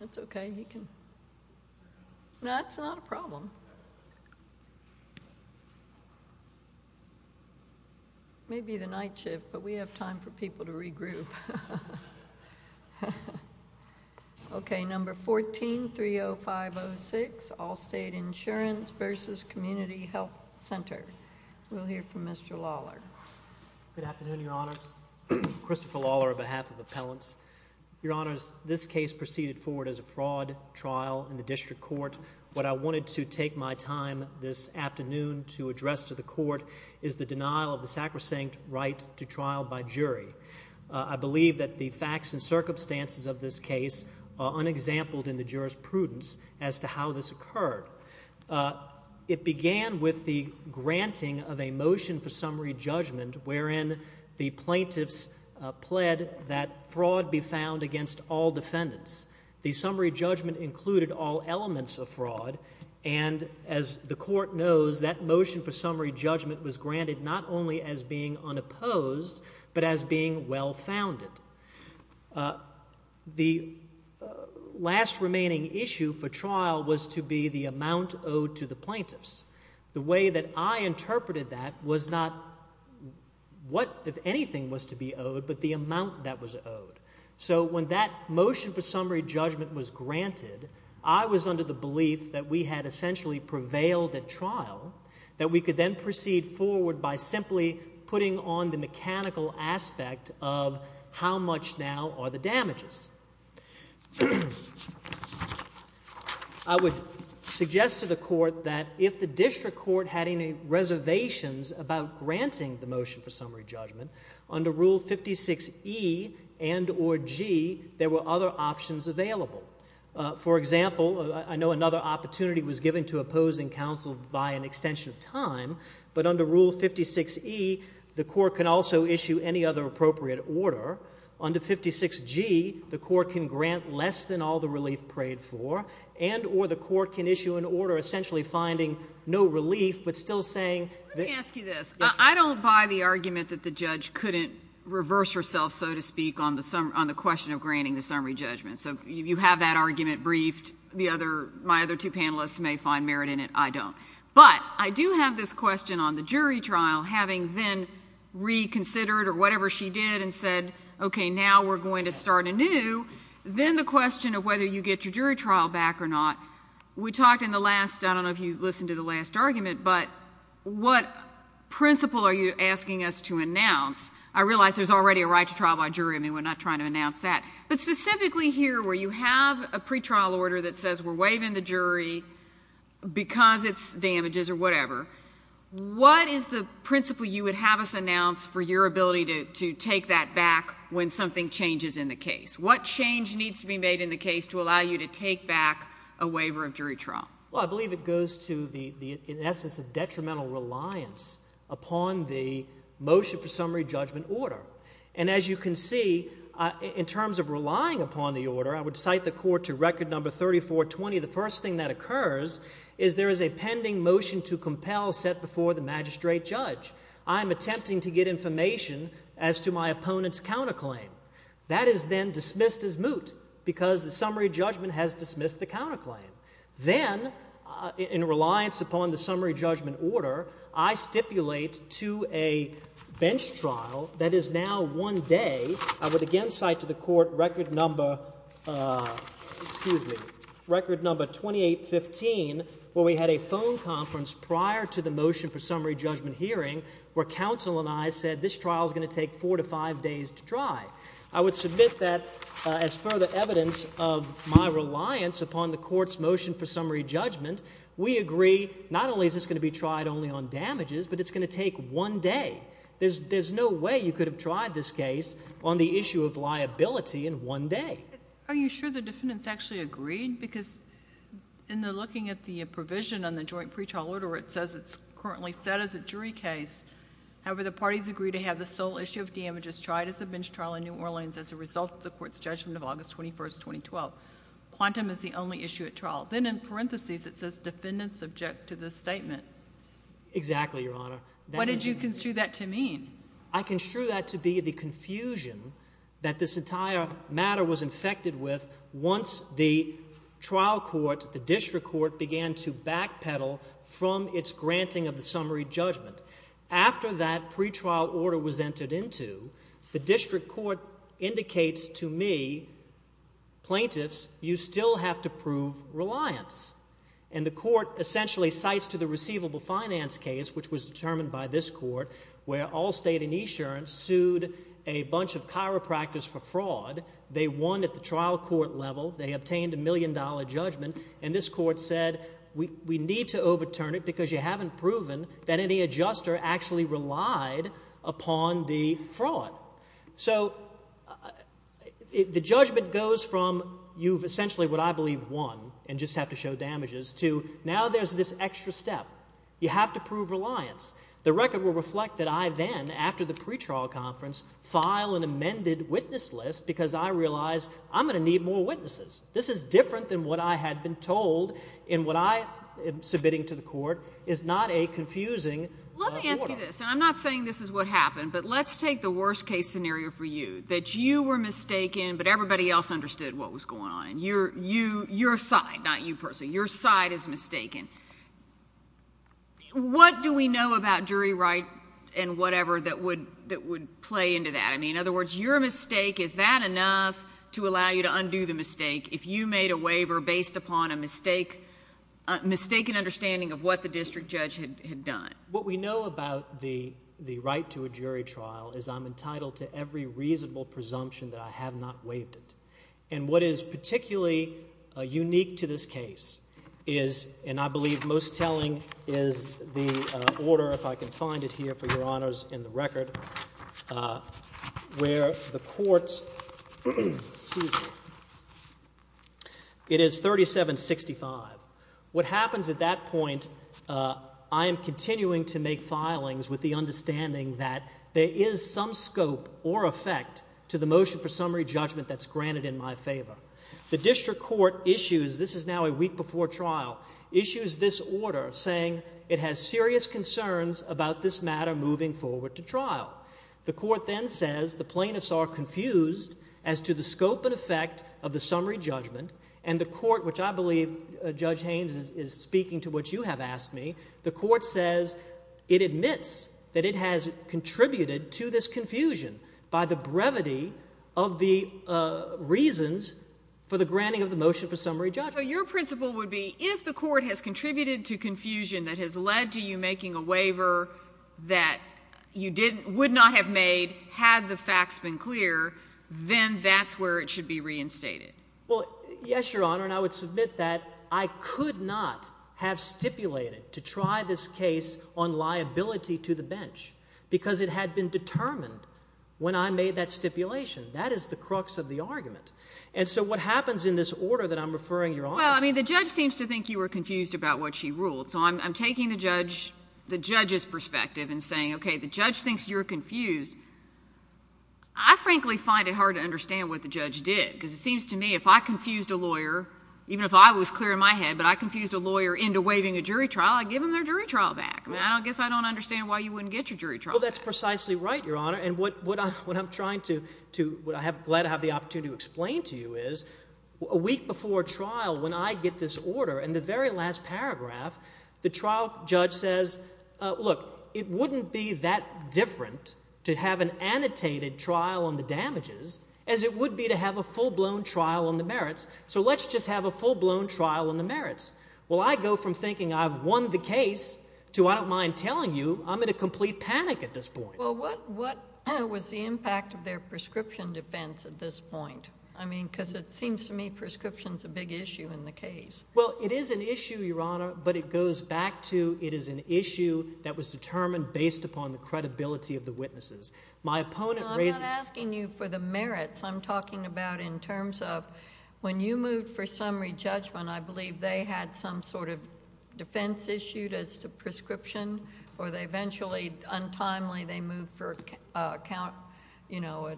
It's okay. You can... No, it's not a problem. It may be the night shift, but we have time for people to regroup. Okay, number 14-30506, Allstate Insurance v. Community Health Center. We'll hear from Mr. Lawler. Good afternoon, Your Honors. Christopher Lawler on behalf of Appellants. Your Honors, this case proceeded forward as a fraud trial in the District Court. What I wanted to take my time this afternoon to address to the Court is the denial of the summary. I believe that the facts and circumstances of this case are unexampled in the jurisprudence as to how this occurred. It began with the granting of a motion for summary judgment wherein the plaintiffs pled that fraud be found against all defendants. The summary judgment included all elements of fraud, and as the Court knows, that motion for summary judgment being well-founded. The last remaining issue for trial was to be the amount owed to the plaintiffs. The way that I interpreted that was not what, if anything, was to be owed, but the amount that was owed. So when that motion for summary judgment was granted, I was under the belief that we had essentially prevailed at trial, that we could then proceed forward by simply putting on the mechanical aspect of how much now are the damages. I would suggest to the Court that if the District Court had any reservations about granting the motion for summary judgment, under Rule 56E and or G, there were other options available. For example, I know another opportunity was given to opposing counsel by an extension of time, but under Rule 56E, the Court can also issue any other appropriate order. Under 56G, the Court can grant less than all the relief prayed for, and or the Court can issue an order essentially finding no relief, but still saying that— Let me ask you this. I don't buy the argument that the judge couldn't reverse herself, so to speak, on the question of granting the summary judgment. So you have that argument briefed. My other two panelists may find merit in it. I don't. But I do have this question on the jury trial, having then reconsidered or whatever she did and said, okay, now we're going to start anew. Then the question of whether you get your jury trial back or not, we talked in the last—I don't know if you listened to the last argument, but what principle are you asking us to announce? I realize there's already a right to trial by jury. I mean, we're not trying to announce that. But specifically here where you have a pretrial order that says we're waiving the jury because it's damages or whatever, what is the principle you would have us announce for your ability to take that back when something changes in the case? What change needs to be made in the case to allow you to take back a waiver of jury trial? Well, I believe it goes to the—in essence, the detrimental reliance upon the motion for the—in terms of relying upon the order, I would cite the court to record number 3420. The first thing that occurs is there is a pending motion to compel set before the magistrate judge. I'm attempting to get information as to my opponent's counterclaim. That is then dismissed as moot because the summary judgment has dismissed the counterclaim. Then, in reliance upon the summary judgment order, I stipulate to a bench trial that is now one day—I would again cite to the court record number—excuse me—record number 2815 where we had a phone conference prior to the motion for summary judgment hearing where counsel and I said this trial is going to take four to five days to try. I would submit that as further evidence of my reliance upon the court's motion for summary judgment, we agree not only is this going to be tried only on damages, but it's going to take one day. There's no way you have liability in one day. Are you sure the defendants actually agreed? Because in the—looking at the provision on the joint pretrial order where it says it's currently set as a jury case, however, the parties agree to have the sole issue of damages tried as a bench trial in New Orleans as a result of the court's judgment of August 21st, 2012. Quantum is the only issue at trial. Then in parentheses, it says defendants subject to this statement. Exactly, Your Honor. What did you construe that to mean? I construed that to be the confusion that this entire matter was infected with once the trial court, the district court, began to backpedal from its granting of the summary judgment. After that pretrial order was entered into, the district court indicates to me, plaintiffs, you still have to prove reliance. And the court essentially cites to the receivable finance case, which was determined by this court, where all state insurance sued a bunch of chiropractors for fraud. They won at the trial court level. They obtained a million dollar judgment. And this court said, we need to overturn it because you haven't proven that any adjuster actually relied upon the fraud. So the judgment goes from you've essentially, what I believe, won and just have to show you step. You have to prove reliance. The record will reflect that I then, after the pretrial conference, file an amended witness list because I realize I'm going to need more witnesses. This is different than what I had been told in what I am submitting to the court is not a confusing order. Let me ask you this, and I'm not saying this is what happened, but let's take the worst case scenario for you, that you were mistaken, but everybody else understood what was going on. Your side, not you personally, your side is mistaken. What do we know about jury right and whatever that would play into that? I mean, in other words, your mistake, is that enough to allow you to undo the mistake if you made a waiver based upon a mistaken understanding of what the district judge had done? What we know about the right to a jury trial is I'm entitled to every reasonable presumption that I have not waived it. And what is particularly unique to this case is, and I believe most telling, is the order, if I can find it here for your honors in the record, where the court's it is 3765. What happens at that point, I am continuing to make filings with the understanding that there is some scope or effect to the motion for summary judgment that's granted in my favor. The district court issues, this is now a week before trial, issues this order saying it has serious concerns about this matter moving forward to trial. The court then says the plaintiffs are confused as to the scope and effect of the summary judgment, and the court, which I believe Judge Haynes is speaking to what you have asked me, the court says it has contributed to this confusion by the brevity of the reasons for the granting of the motion for summary judgment. So your principle would be if the court has contributed to confusion that has led to you making a waiver that you would not have made had the facts been clear, then that's where it should be reinstated. Well, yes, your honor, and I would submit that I could not have stipulated to try this case on liability to the bench because it had been determined when I made that stipulation. That is the crux of the argument. And so what happens in this order that I am referring your honor to? Well, I mean, the judge seems to think you were confused about what she ruled. So I am taking the judge's perspective and saying, okay, the judge thinks you are confused. I frankly find it hard to understand what the judge did because it seems to me if I confused a lawyer, even if I was clear in my head, but I confused a lawyer into waiving a jury trial back. I guess I don't understand why you wouldn't get your jury trial back. Well, that's precisely right, your honor. And what I am trying to, what I am glad to have the opportunity to explain to you is a week before trial when I get this order in the very last paragraph, the trial judge says, look, it wouldn't be that different to have an annotated trial on the damages as it would be to have a full-blown trial on the merits. So let's just have a full-blown trial on the merits. Well, I go from thinking I have won the case to I don't mind telling you I am in a complete panic at this point. Well, what was the impact of their prescription defense at this point? I mean, because it seems to me prescription is a big issue in the case. Well, it is an issue, your honor, but it goes back to it is an issue that was determined based upon the credibility of the witnesses. My opponent raises No, I am not asking you for the merits. I am talking about in terms of when you moved for summary judgment, I believe they had some sort of defense issued as to prescription or they eventually, untimely, they moved for account, you know,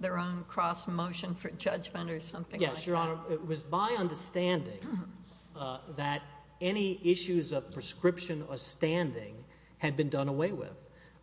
their own cross motion for judgment or something like that. Yes, your honor. It was my understanding that any issues of prescription or standing had been done away with.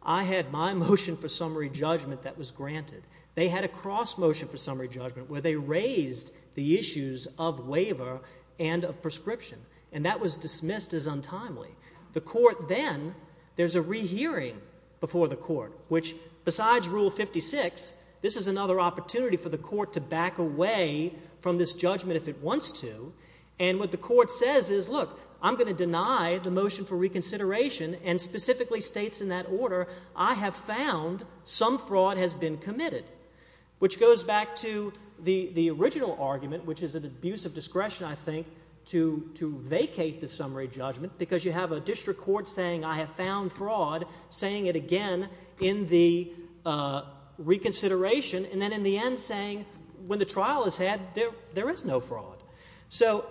I had my motion for summary judgment that was granted. They had a cross motion for summary judgment where they raised the issues of waiver and of prescription, and that was dismissed as untimely. The court then, there is a rehearing before the court, which besides Rule 56, this is another opportunity for the court to back away from this judgment if it wants to, and what the court says is, look, I am going to deny the motion for reconsideration and specifically states in that order, I have found some fraud has been committed, which goes back to the original argument, which is an abuse of discretion, I think, to vacate the summary judgment because you have a district court saying, I have found fraud, saying it again in the reconsideration, and then in the end saying, when the trial is had, there is no fraud. So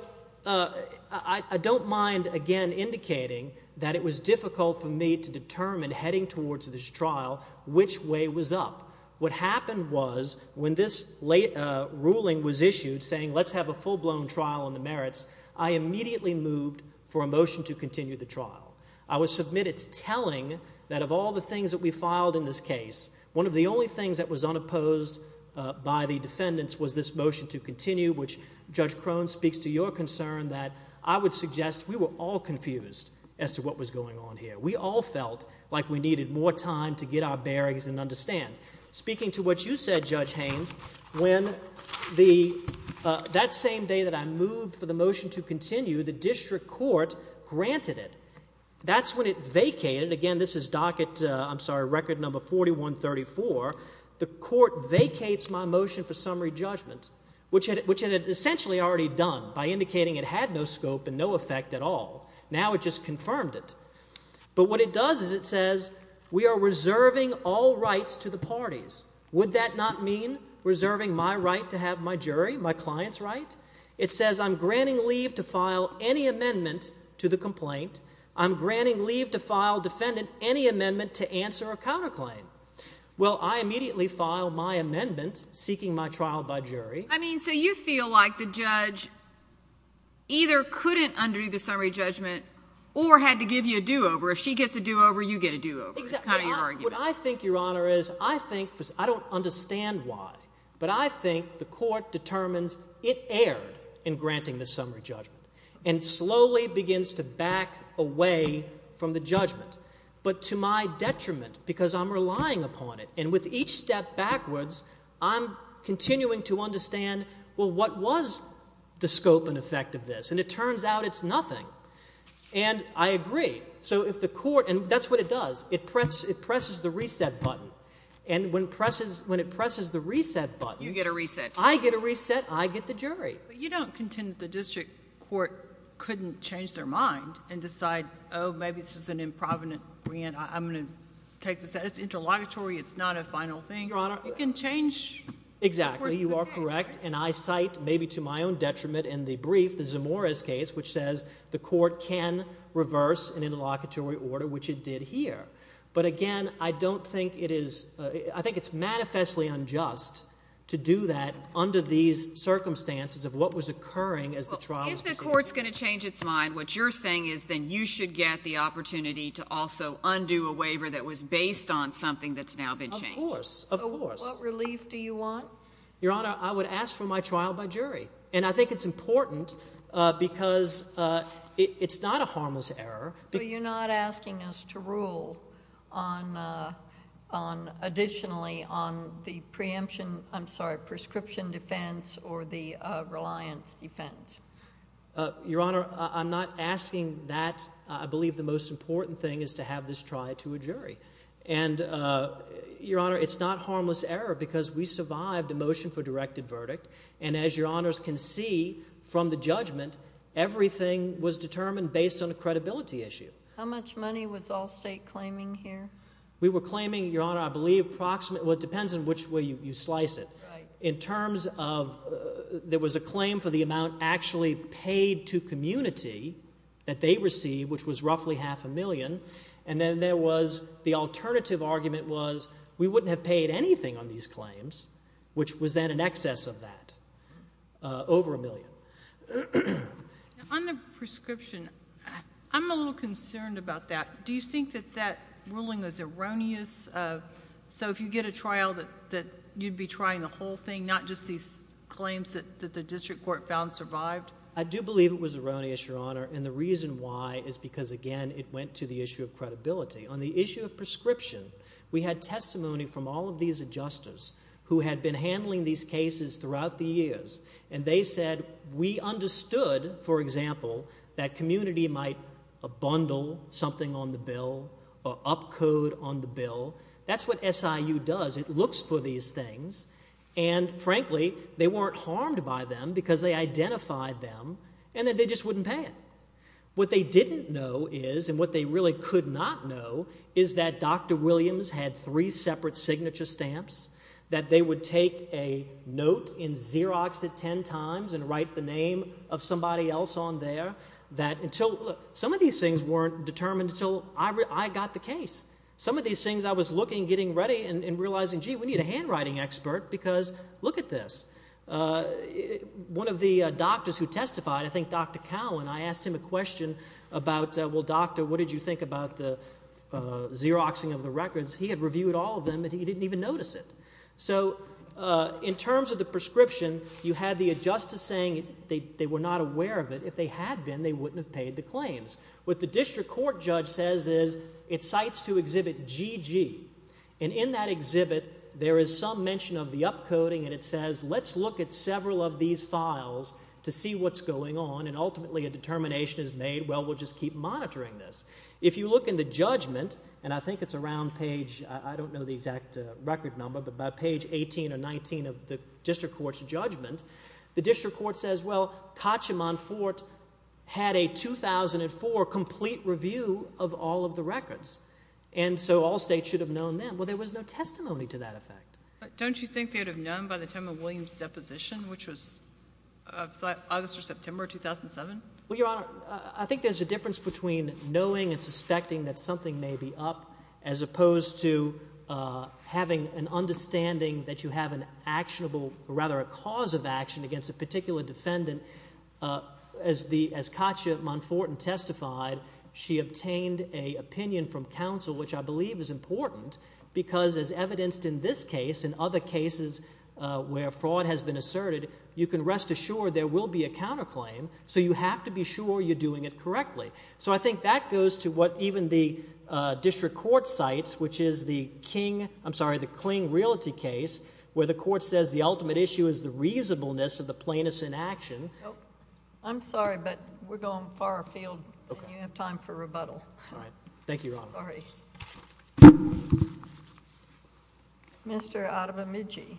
I don't mind, again, indicating that it was difficult for me to determine heading towards this trial which way was up. What happened was, when this ruling was issued saying let's have a full-blown trial on the merits, I immediately moved for a motion to continue the trial. I was submitted telling that of all the things that we filed in this case, one of the only things that was unopposed by the defendants was this motion to continue, which Judge Crone speaks to your concern that I would suggest we were all confused as to what was going on here. We all felt like we needed more time to get our bearings and understand. Speaking to what you said, Judge Haynes, when that same day that I moved for the motion to continue, the district court granted it. That's when it vacated. Again, this is docket ‑‑ I'm sorry, record number 4134. The court vacates my motion for summary judgment, which it had essentially already done by indicating it had no scope and no effect at all. Now it just confirmed it. But what it does is it says we are reserving all rights to the parties. Would that not mean reserving my right to have my jury, my client's right? It says I'm granting leave to file any amendment to the complaint. I'm granting leave to file defendant any amendment to answer a counterclaim. Well, I immediately filed my amendment seeking my trial by jury. I mean, so you feel like the judge either couldn't undo the summary judgment or had to give you a do‑over. If she gets a do‑over, you get a do‑over. That's kind of your argument. What I think, Your Honor, is I think ‑‑ I don't understand why, but I think the court determines it erred in granting the summary judgment and slowly begins to back away from the judgment. But to my detriment, because I'm relying upon it, and with each step backwards, I'm continuing to understand, well, what was the scope and effect of this? And it turns out it's nothing. And I agree. So if the court ‑‑ and that's what it does. It presses the reset button. And when it presses the reset button ‑‑ You get a reset. I get a reset. I get the jury. But you don't contend that the district court couldn't change their mind and decide, oh, maybe this is an improvident grant. I'm going to take this out. It's interlocutory. It's not a final thing. I agree, Your Honor. You can change the course of the case. Exactly. You are correct. And I cite, maybe to my own detriment in the brief, the Zamora's case, which says the court can reverse an interlocutory order, which it did here. But again, I don't think it is ‑‑ I think it's manifestly unjust to do that under these circumstances of what was occurring as the trial was proceeding. If the court's going to change its mind, what you're saying is then you should get the opportunity to also undo a waiver that was based on something that's now been changed. Of course. Of course. So what relief do you want? Your Honor, I would ask for my trial by jury. And I think it's important because it's not a harmless error. So you're not asking us to rule on additionally on the preemption ‑‑ I'm sorry, prescription defense or the reliance defense? Your Honor, I'm not asking that. I believe the most important thing is to have this tried to a jury. And, Your Honor, it's not harmless error because we survived a motion for directed verdict. And as Your Honors can see from the judgment, everything was determined based on a credibility issue. How much money was Allstate claiming here? We were claiming, Your Honor, I believe approximately ‑‑ well, it depends on which way you slice it. Right. In terms of ‑‑ there was a claim for the amount actually paid to community that they received, which was roughly half a million. And then there was ‑‑ the alternative argument was we wouldn't have paid anything on these claims, which was then in excess of that, over a million. On the prescription, I'm a little concerned about that. Do you think that that ruling was erroneous? So if you get a trial that you'd be trying the whole thing, not just these claims that the district court found survived? I do believe it was erroneous, Your Honor. And the reason why is because, again, it went to the issue of credibility. On the issue of prescription, we had testimony from all of these adjusters who had been handling these cases throughout the years. And they said we understood, for example, that community might bundle something on the bill or upcode on the bill. That's what SIU does. It looks for these things. And, frankly, they weren't harmed by them because they identified them and that they just wouldn't pay it. What they didn't know is, and what they really could not know, is that Dr. Williams had three separate signature stamps, that they would take a note in Xerox at ten times and write the name of somebody else on there, that until ‑‑ look, some of these things weren't determined until I got the case. Some of these things I was looking, getting ready, and realizing, gee, we need a handwriting expert because look at this. One of the doctors who testified, I think Dr. Cowan, I asked him a question about, well, doctor, what did you think about the Xeroxing of the records? He had reviewed all of them and he didn't even notice it. So in terms of the prescription, you had the adjuster saying they were not aware of it. If they had been, they wouldn't have paid the claims. What the district court judge says is, it cites to exhibit GG, and in that exhibit there is some mention of the upcoding and it says let's look at several of these files to see what's going on, and ultimately a determination is made, well, we'll just keep monitoring this. If you look in the judgment, and I think it's around page ‑‑ I don't know the exact record number, but about page 18 or 19 of the district court's judgment, the district court says, well, Kacheman Fort Hill had a 2004 complete review of all of the records, and so all states should have known then. Well, there was no testimony to that effect. But don't you think they would have known by the time of William's deposition, which was August or September 2007? Well, Your Honor, I think there's a difference between knowing and suspecting that something may be up as opposed to having an understanding that you have an actionable ‑‑ rather a cause of action against a particular defendant. As Katya Monforten testified, she obtained an opinion from counsel, which I believe is important, because as evidenced in this case and other cases where fraud has been asserted, you can rest assured there will be a counterclaim, so you have to be sure you're doing it correctly. So I think that goes to what even the district court cites, which is the King ‑‑ I'm sorry, but we're going far afield, and you don't have time for rebuttal. All right. Thank you, Your Honor. Sorry. Mr. Adememidji.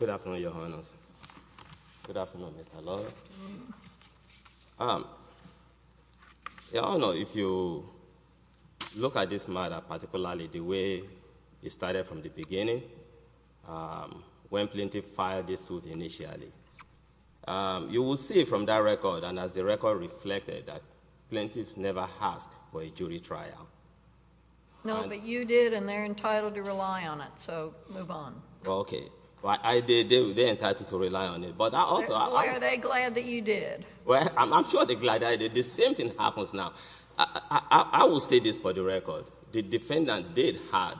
Good afternoon, Your Honor. Good afternoon, Mr. Lawyer. Your Honor, if you look at this matter particularly the way it started from the beginning, when plaintiff filed this suit initially, you will see from that record and as the record reflected that plaintiffs never asked for a jury trial. No, but you did, and they're entitled to rely on it, so move on. Okay. They're entitled to rely on it, but I also ‑‑ Well, are they glad that you did? Well, I'm sure they're glad I did. The same thing happens now. I will say this for the record. The defendant did have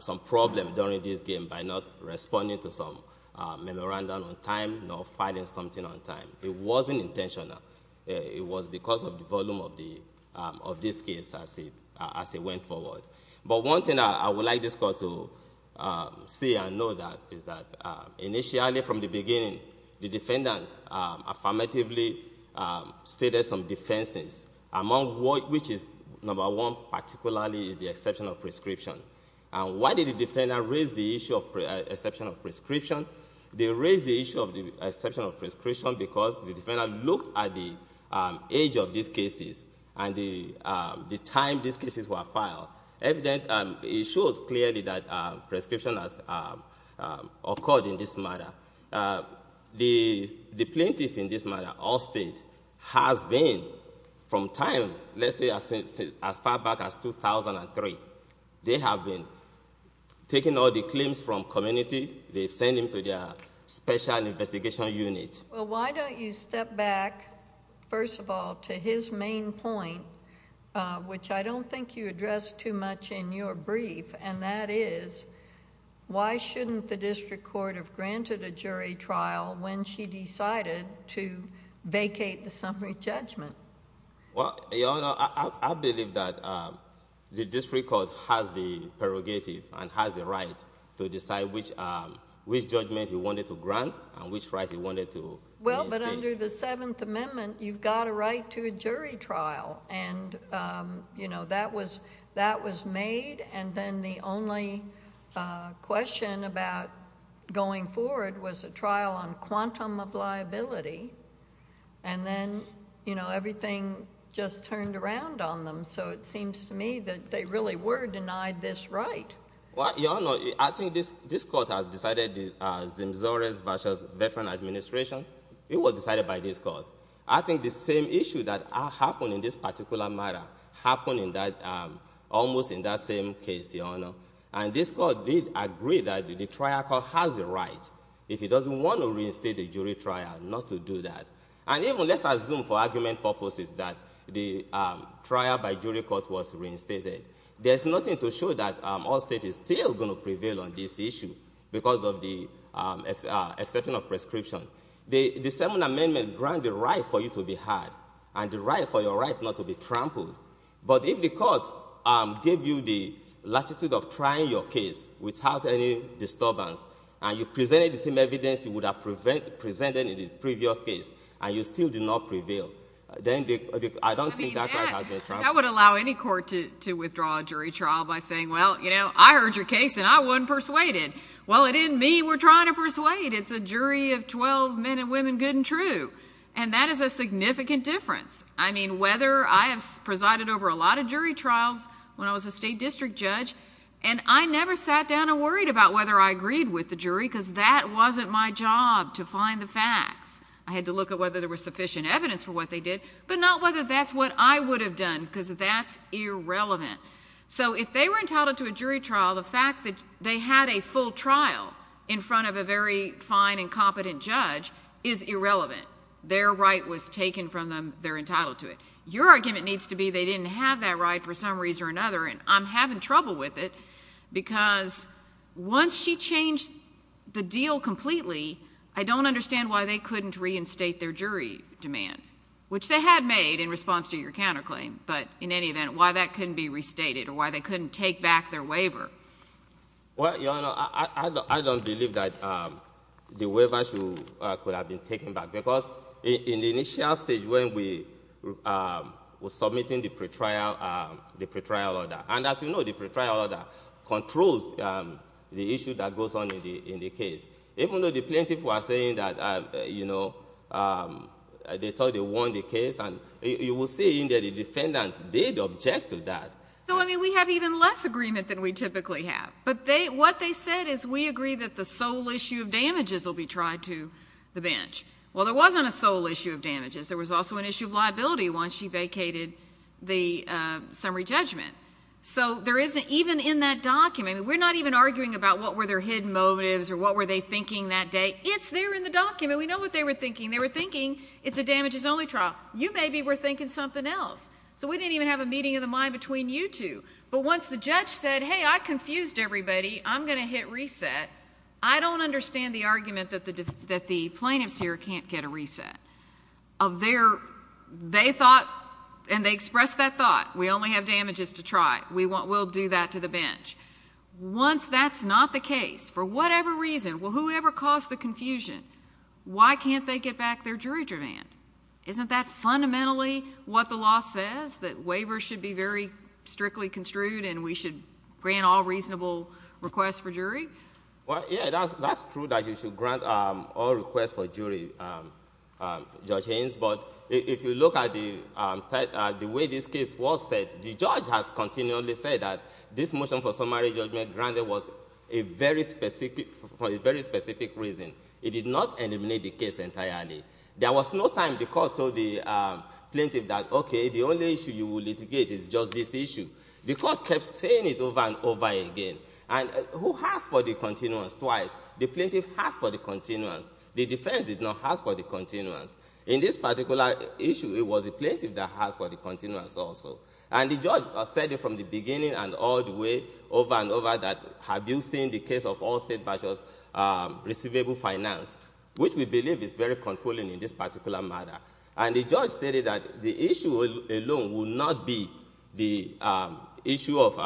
some problem during this game by not responding to some memorandum on time, nor filing something on time. It wasn't intentional. It was because of the volume of this case as it went forward. But one thing I would like this court to see and know is that initially from the beginning, the defendant affirmatively stated some defenses, among which is, number one, particularly the exception of prescription. Why did the defendant raise the issue of exception of prescription? They raised the issue of the exception of prescription because the defendant looked at the age of these cases and the time these cases were filed. It shows clearly that prescription has occurred in this matter. The plaintiff in this matter, Allstate, has been from time, let's say as far back as 2003, they have been taking all the claims from community. They have been giving almost identical claims as before. Eight years after the claim, I believe that is still aside at the court. When they fix the issue, would the defendant not be responsible for the issues would there be left classes among individual arguments that you've got a right to a jury trial? That was made and then the only question about going forward was a trial on quantum of liability. Then everything just turned around on them, so it seems to me that they really were denied this right. Your Honor, I think this court has decided the Zimzores v. Veterans Administration. It is the same issue that happened in this particular matter. This court did agree that the trial court has a right. If it doesn't want to reinstate a jury trial, not to do that. Let's assume for argument purposes that the trial by jury court was reinstated. There's nothing to show that all state is still going to prevail on this issue because of the exception of prescription. The 7th Amendment granted right for you to be had and the right for your right not to be trampled, but if the court gave you the latitude of trying your case without any disturbance and you presented the same evidence you would have presented in the previous case and you still did not prevail, then I don't think that right has been trampled. I would allow any court to withdraw a jury trial by saying, well, I heard your case and I wasn't persuaded. Well, it didn't mean we're trying to persuade. It's a jury of 12 men and women, good and true. And that is a significant difference. I mean, whether I have presided over a lot of jury trials when I was a state district judge and I never sat down and worried about whether I agreed with the jury because that wasn't my job to find the facts. I had to look at whether there was sufficient evidence for what they did, but not whether that's what I would have done because that's irrelevant. So if they were entitled to a jury trial, the fact that they had a full trial in front of a very fine and competent judge is irrelevant. Their right was taken from them. They're entitled to it. Your argument needs to be they didn't have that right for some reason or another, and I'm having trouble with it because once she changed the deal completely, I don't understand why they couldn't reinstate their jury demand, which they had made in response to your counterclaim, but in any event, why that couldn't be restated or why they couldn't take back their waiver? Well, Your Honor, I don't believe that the waiver could have been taken back because in the initial stage when we were submitting the pretrial order, and as you know, the pretrial order controls the issue that goes on in the case. Even though the plaintiff was saying that they thought they won the case, you will see that the defendant did object to that. So I mean, we have even less agreement than we typically have, but what they said is we agree that the sole issue of damages will be tried to the bench. Well, there wasn't a sole issue of damages. There was also an issue of liability once she vacated the summary judgment. So even in that document, we're not even arguing about what were their hidden motives or what were they thinking that day. It's there in the document. We know what they were thinking. They were thinking it's a damages-only trial. You maybe were thinking something else. So we didn't even have a meeting of the mind between you two. But once the judge said, hey, I confused everybody. I'm going to hit reset. I don't understand the argument that the plaintiffs here can't get a reset. They thought and they expressed that thought, we only have damages to try. We'll do that to the bench. Once that's not the case, for whatever reason, whoever caused the confusion, why can't they get back their jury demand? Isn't that fundamentally what the law says, that waivers should be very strictly construed and we should grant all reasonable requests for jury? Well, yeah, that's true that you should grant all requests for jury, Judge Haynes. But if you look at the way this case was set, the judge has continually said that this motion for summary judgment granted was for a very specific reason. It did not eliminate the issue. The court told the plaintiff that, okay, the only issue you will litigate is just this issue. The court kept saying it over and over again. And who has for the continuance twice? The plaintiff has for the continuance. The defense did not have for the continuance. In this particular issue, it was the plaintiff that has for the continuance also. And the judge said it from the beginning and all the way over and over that have you seen the case of all state bachelors receivable finance, which we believe is very controlling in this particular matter. And the judge stated that the issue alone will not be the issue of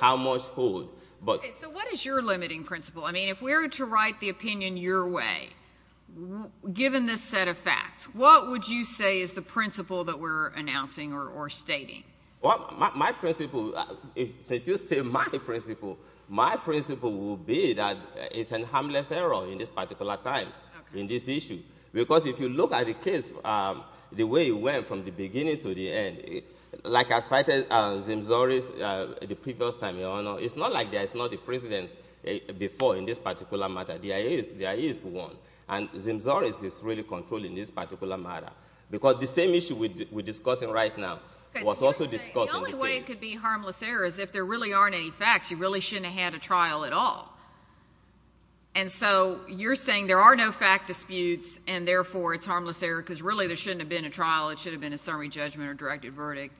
how much hold. Okay, so what is your limiting principle? I mean, if we were to write the opinion your way, given this set of facts, what would you say is the principle that we're announcing or stating? Well, my principle, since you say my principle, my principle will be that it's a harmless error in this particular time in this issue. Because if you look at the case, the way it went from the beginning to the end, like I cited Zimzorris the previous time, Your Honor, it's not like there is not a precedence before in this particular matter. There is one. And Zimzorris is really controlling this particular matter. Because the same issue we're discussing right now was also discussed in the case. Okay, so you're saying the only way it could be harmless error is if there really aren't any facts. You really shouldn't have had a trial at all. And so you're saying there are no fact disputes, and therefore it's harmless error because really there shouldn't have been a trial. It should have been a summary judgment or directed verdict.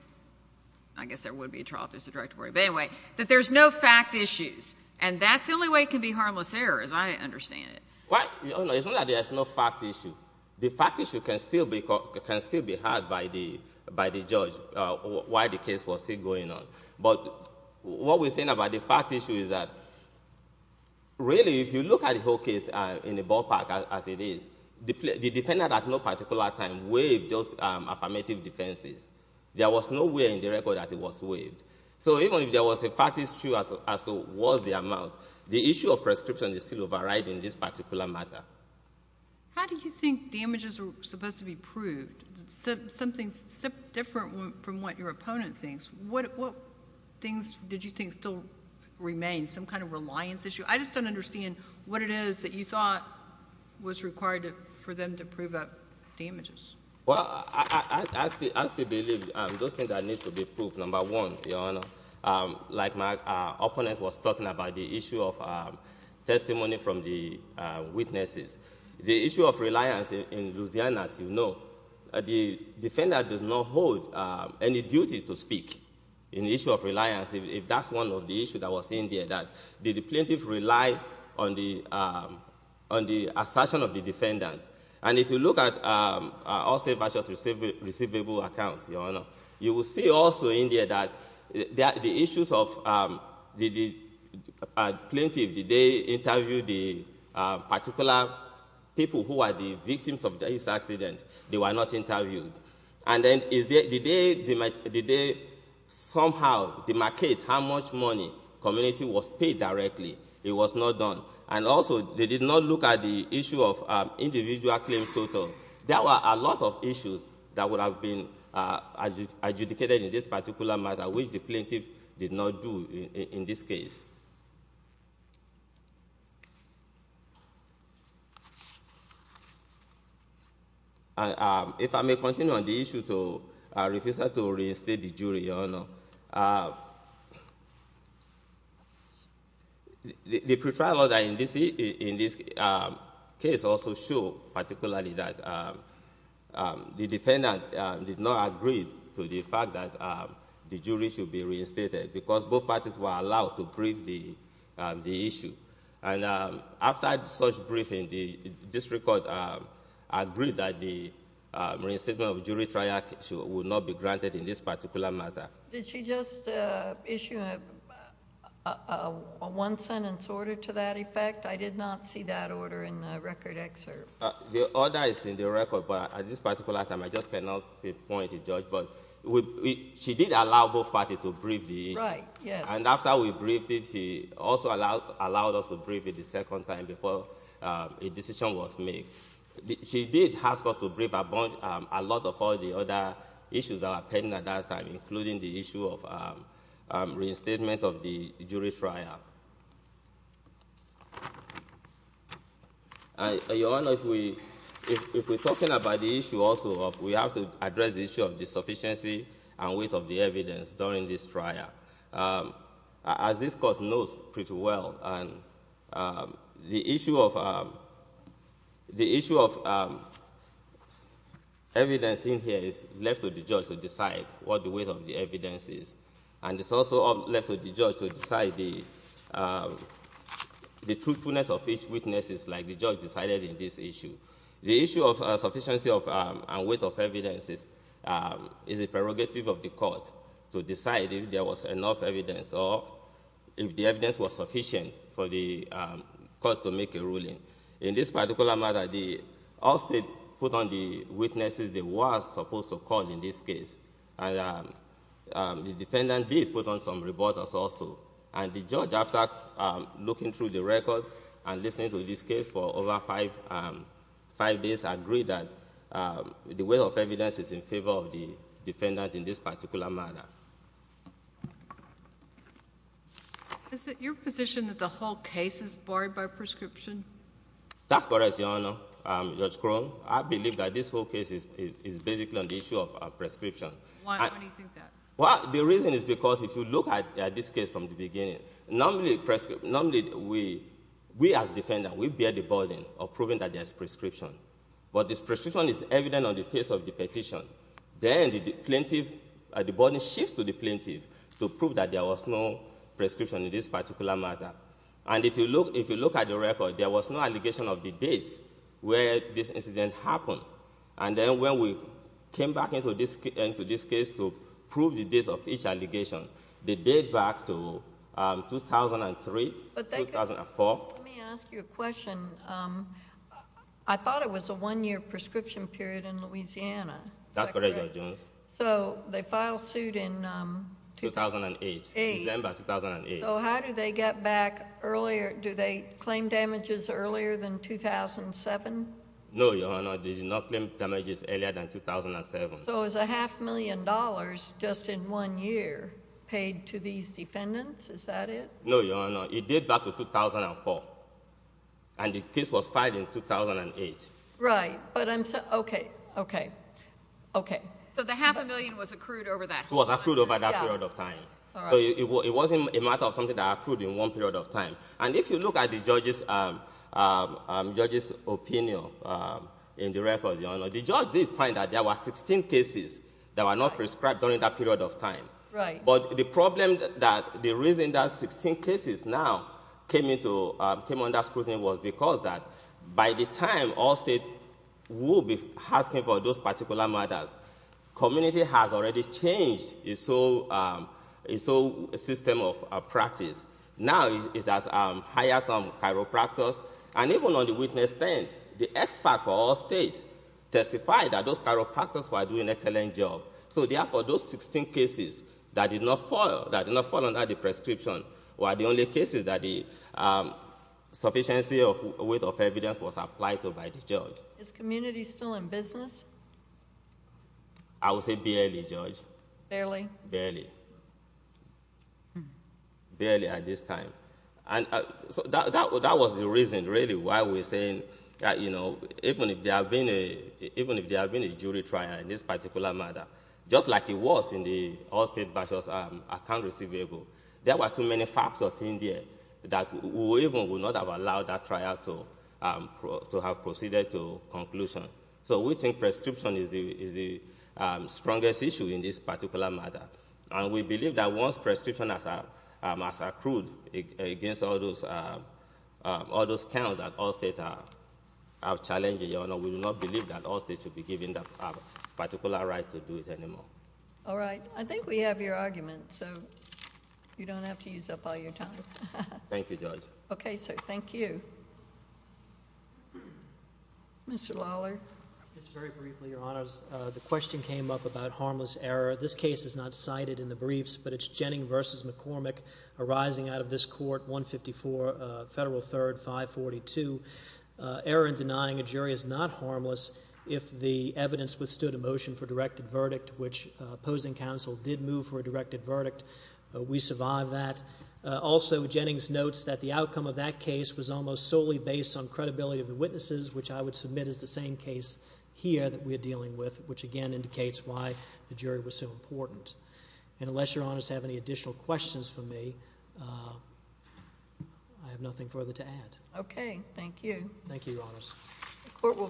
I guess there would be a trial if there's a directed verdict. But anyway, that there's no fact issues. And that's the only way it can be harmless error, as I understand it. Your Honor, it's not that there's no fact issue. The fact issue can still be had by the judge while the case was still going on. But what we're saying about the fact issue is that really if you look at the whole case in the ballpark as it is, the defendant at no particular time waived those affirmative defenses. There was no way in the record that it was waived. So even if there was a fact issue as to what was the amount, the issue of prescription is still overriding this particular matter. How do you think damages are supposed to be proved? Something different from what your opponent thinks. What things did you think still remain? Some kind of reliance issue? I just don't understand what it is that you thought was required for them to prove damages. Well, I still believe those things that need to be proved, number one, Your Honor. Like our opponent was talking about the issue of testimony from the witnesses. The issue of reliance in Louisiana, as you know, the defendant does not hold any duty to speak in the issue of reliance. If that's one of the issues that was in there, that the plaintiff relied on the assertion of the defendant. And if you look at all state bashers receivable accounts, you will see also in there that the issues of the plaintiff, did they interview the particular people who are the victims of this accident? They were not interviewed. And then did they somehow demarcate how much money community was paid directly? It was not done. And also they did not look at the issue of individual claim total. There were a lot of issues that would have been adjudicated in this particular matter, which the plaintiff did not do in this case. If I may continue on the issue, I refuse to reinstate the jury, Your Honor. The pre-trial audit in this case also showed particularly that the defendant did not agree to the fact that the jury should be reinstated, because both parties were allowed to brief the issue. And after such briefing, the district court agreed that the reinstatement of jury trial would not be granted in this particular matter. Did she just issue a one-sentence order to that effect? I did not see that order in the record excerpt. The order is in the record, but at this particular time, I just cannot point it, Judge, but she did allow both parties to brief the issue. Right, yes. And after we briefed it, she also allowed us to brief it the second time before a decision was made. She did ask us to brief a lot of all the other issues that were pending at the time, such as the issue of reinstatement of the jury trial. Your Honor, if we're talking about the issue also, we have to address the issue of the sufficiency and weight of the evidence during this trial. As this court knows pretty well, the issue of evidence in here is left to the judge to decide what the weight of the evidence is. And it's also left to the judge to decide the truthfulness of each witness, as the judge decided in this issue. The issue of sufficiency and weight of evidence is a prerogative of the court to decide if there was enough evidence, or if the evidence was sufficient for the court to make a ruling. In this particular matter, the Allstate put on the witnesses they were supposed to call in this case, and the defendant did put on some reporters also. And the judge, after looking through the records and listening to this case for over five days, agreed that the weight of evidence is in favor of the defendant in this particular matter. Is it your position that the whole case is barred by prescription? That's correct, Your Honor. Judge Crow, I believe that this whole case is basically on the issue of prescription. Why do you think that? The reason is because if you look at this case from the beginning, normally we as defendants, we bear the burden of proving that there's prescription. But this prescription is evident on the face of the petition. Then the plaintiff, the burden shifts to the plaintiff to prove that there was no prescription in this particular matter. And if you look at the record, there was no allegation of the dates where this incident happened. And then when we came back into this case to prove the dates of each allegation, the date back to 2003, 2004. Let me ask you a question. I thought it was a one-year prescription period in Louisiana. That's correct, Your Honor. So they filed suit in... 2008, December 2008. So how did they get back earlier? Do they claim damages earlier than 2007? No, Your Honor. They did not claim damages earlier than 2007. So it was a half million dollars just in one year paid to these defendants? Is that it? No, Your Honor. It date back to 2004. And the case was filed in 2008. Right. But I'm... Okay. Okay. Okay. So the half a million was accrued over that time? It was accrued over that period of time. All right. So it wasn't a matter of something that accrued in one period of time. And if you look at the judge's opinion in the record, Your Honor, the judge did find that there were 16 cases that were not prescribed during that period of time. Right. But the problem that... The reason that 16 cases now came under scrutiny was because that by the time all states would be asking for those particular matters, community has already changed its whole system of practice. Now it has hired some chiropractors. And even on the witness stand, the expert for all states testified that those chiropractors were doing an excellent job. So therefore, those 16 cases that did not fall under the prescription were the only cases that the sufficiency of weight of evidence was applied to by the judge. Is community still in business? I would say barely, Judge. Barely? Barely. Barely at this time. That was the reason, really, why we're saying that even if there had been a jury trial in this particular matter, just like it was in the all-state versus account receivable, there were too many factors in there that we even would not have allowed that trial to have proceeded to conclusion. So we think prescription is the strongest issue in this particular matter. And we believe that once prescription has accrued against all those counts that all states are challenging, Your Honor, we do not believe that all states should be given that particular right to do it anymore. All right. I think we have your argument, so you don't have to use up all your time. Thank you, Judge. Okay, sir. Thank you. Mr. Lawler? Just very briefly, Your Honors. The question came up about harmless error. This case is not cited in the briefs, but it's Jennings v. McCormick arising out of this court, 154 Federal 3rd, 542. Error in denying a jury is not harmless if the evidence withstood a motion for directed verdict, which opposing counsel did move for a directed verdict. We survived that. Also, Jennings notes that the outcome of that case was almost solely based on credibility of the witnesses, which I would submit is the same case here that we are dealing with, which again indicates why the jury was so important. Unless Your Honors have any additional questions for me, I have nothing further to add. Okay. Thank you, Your Honors.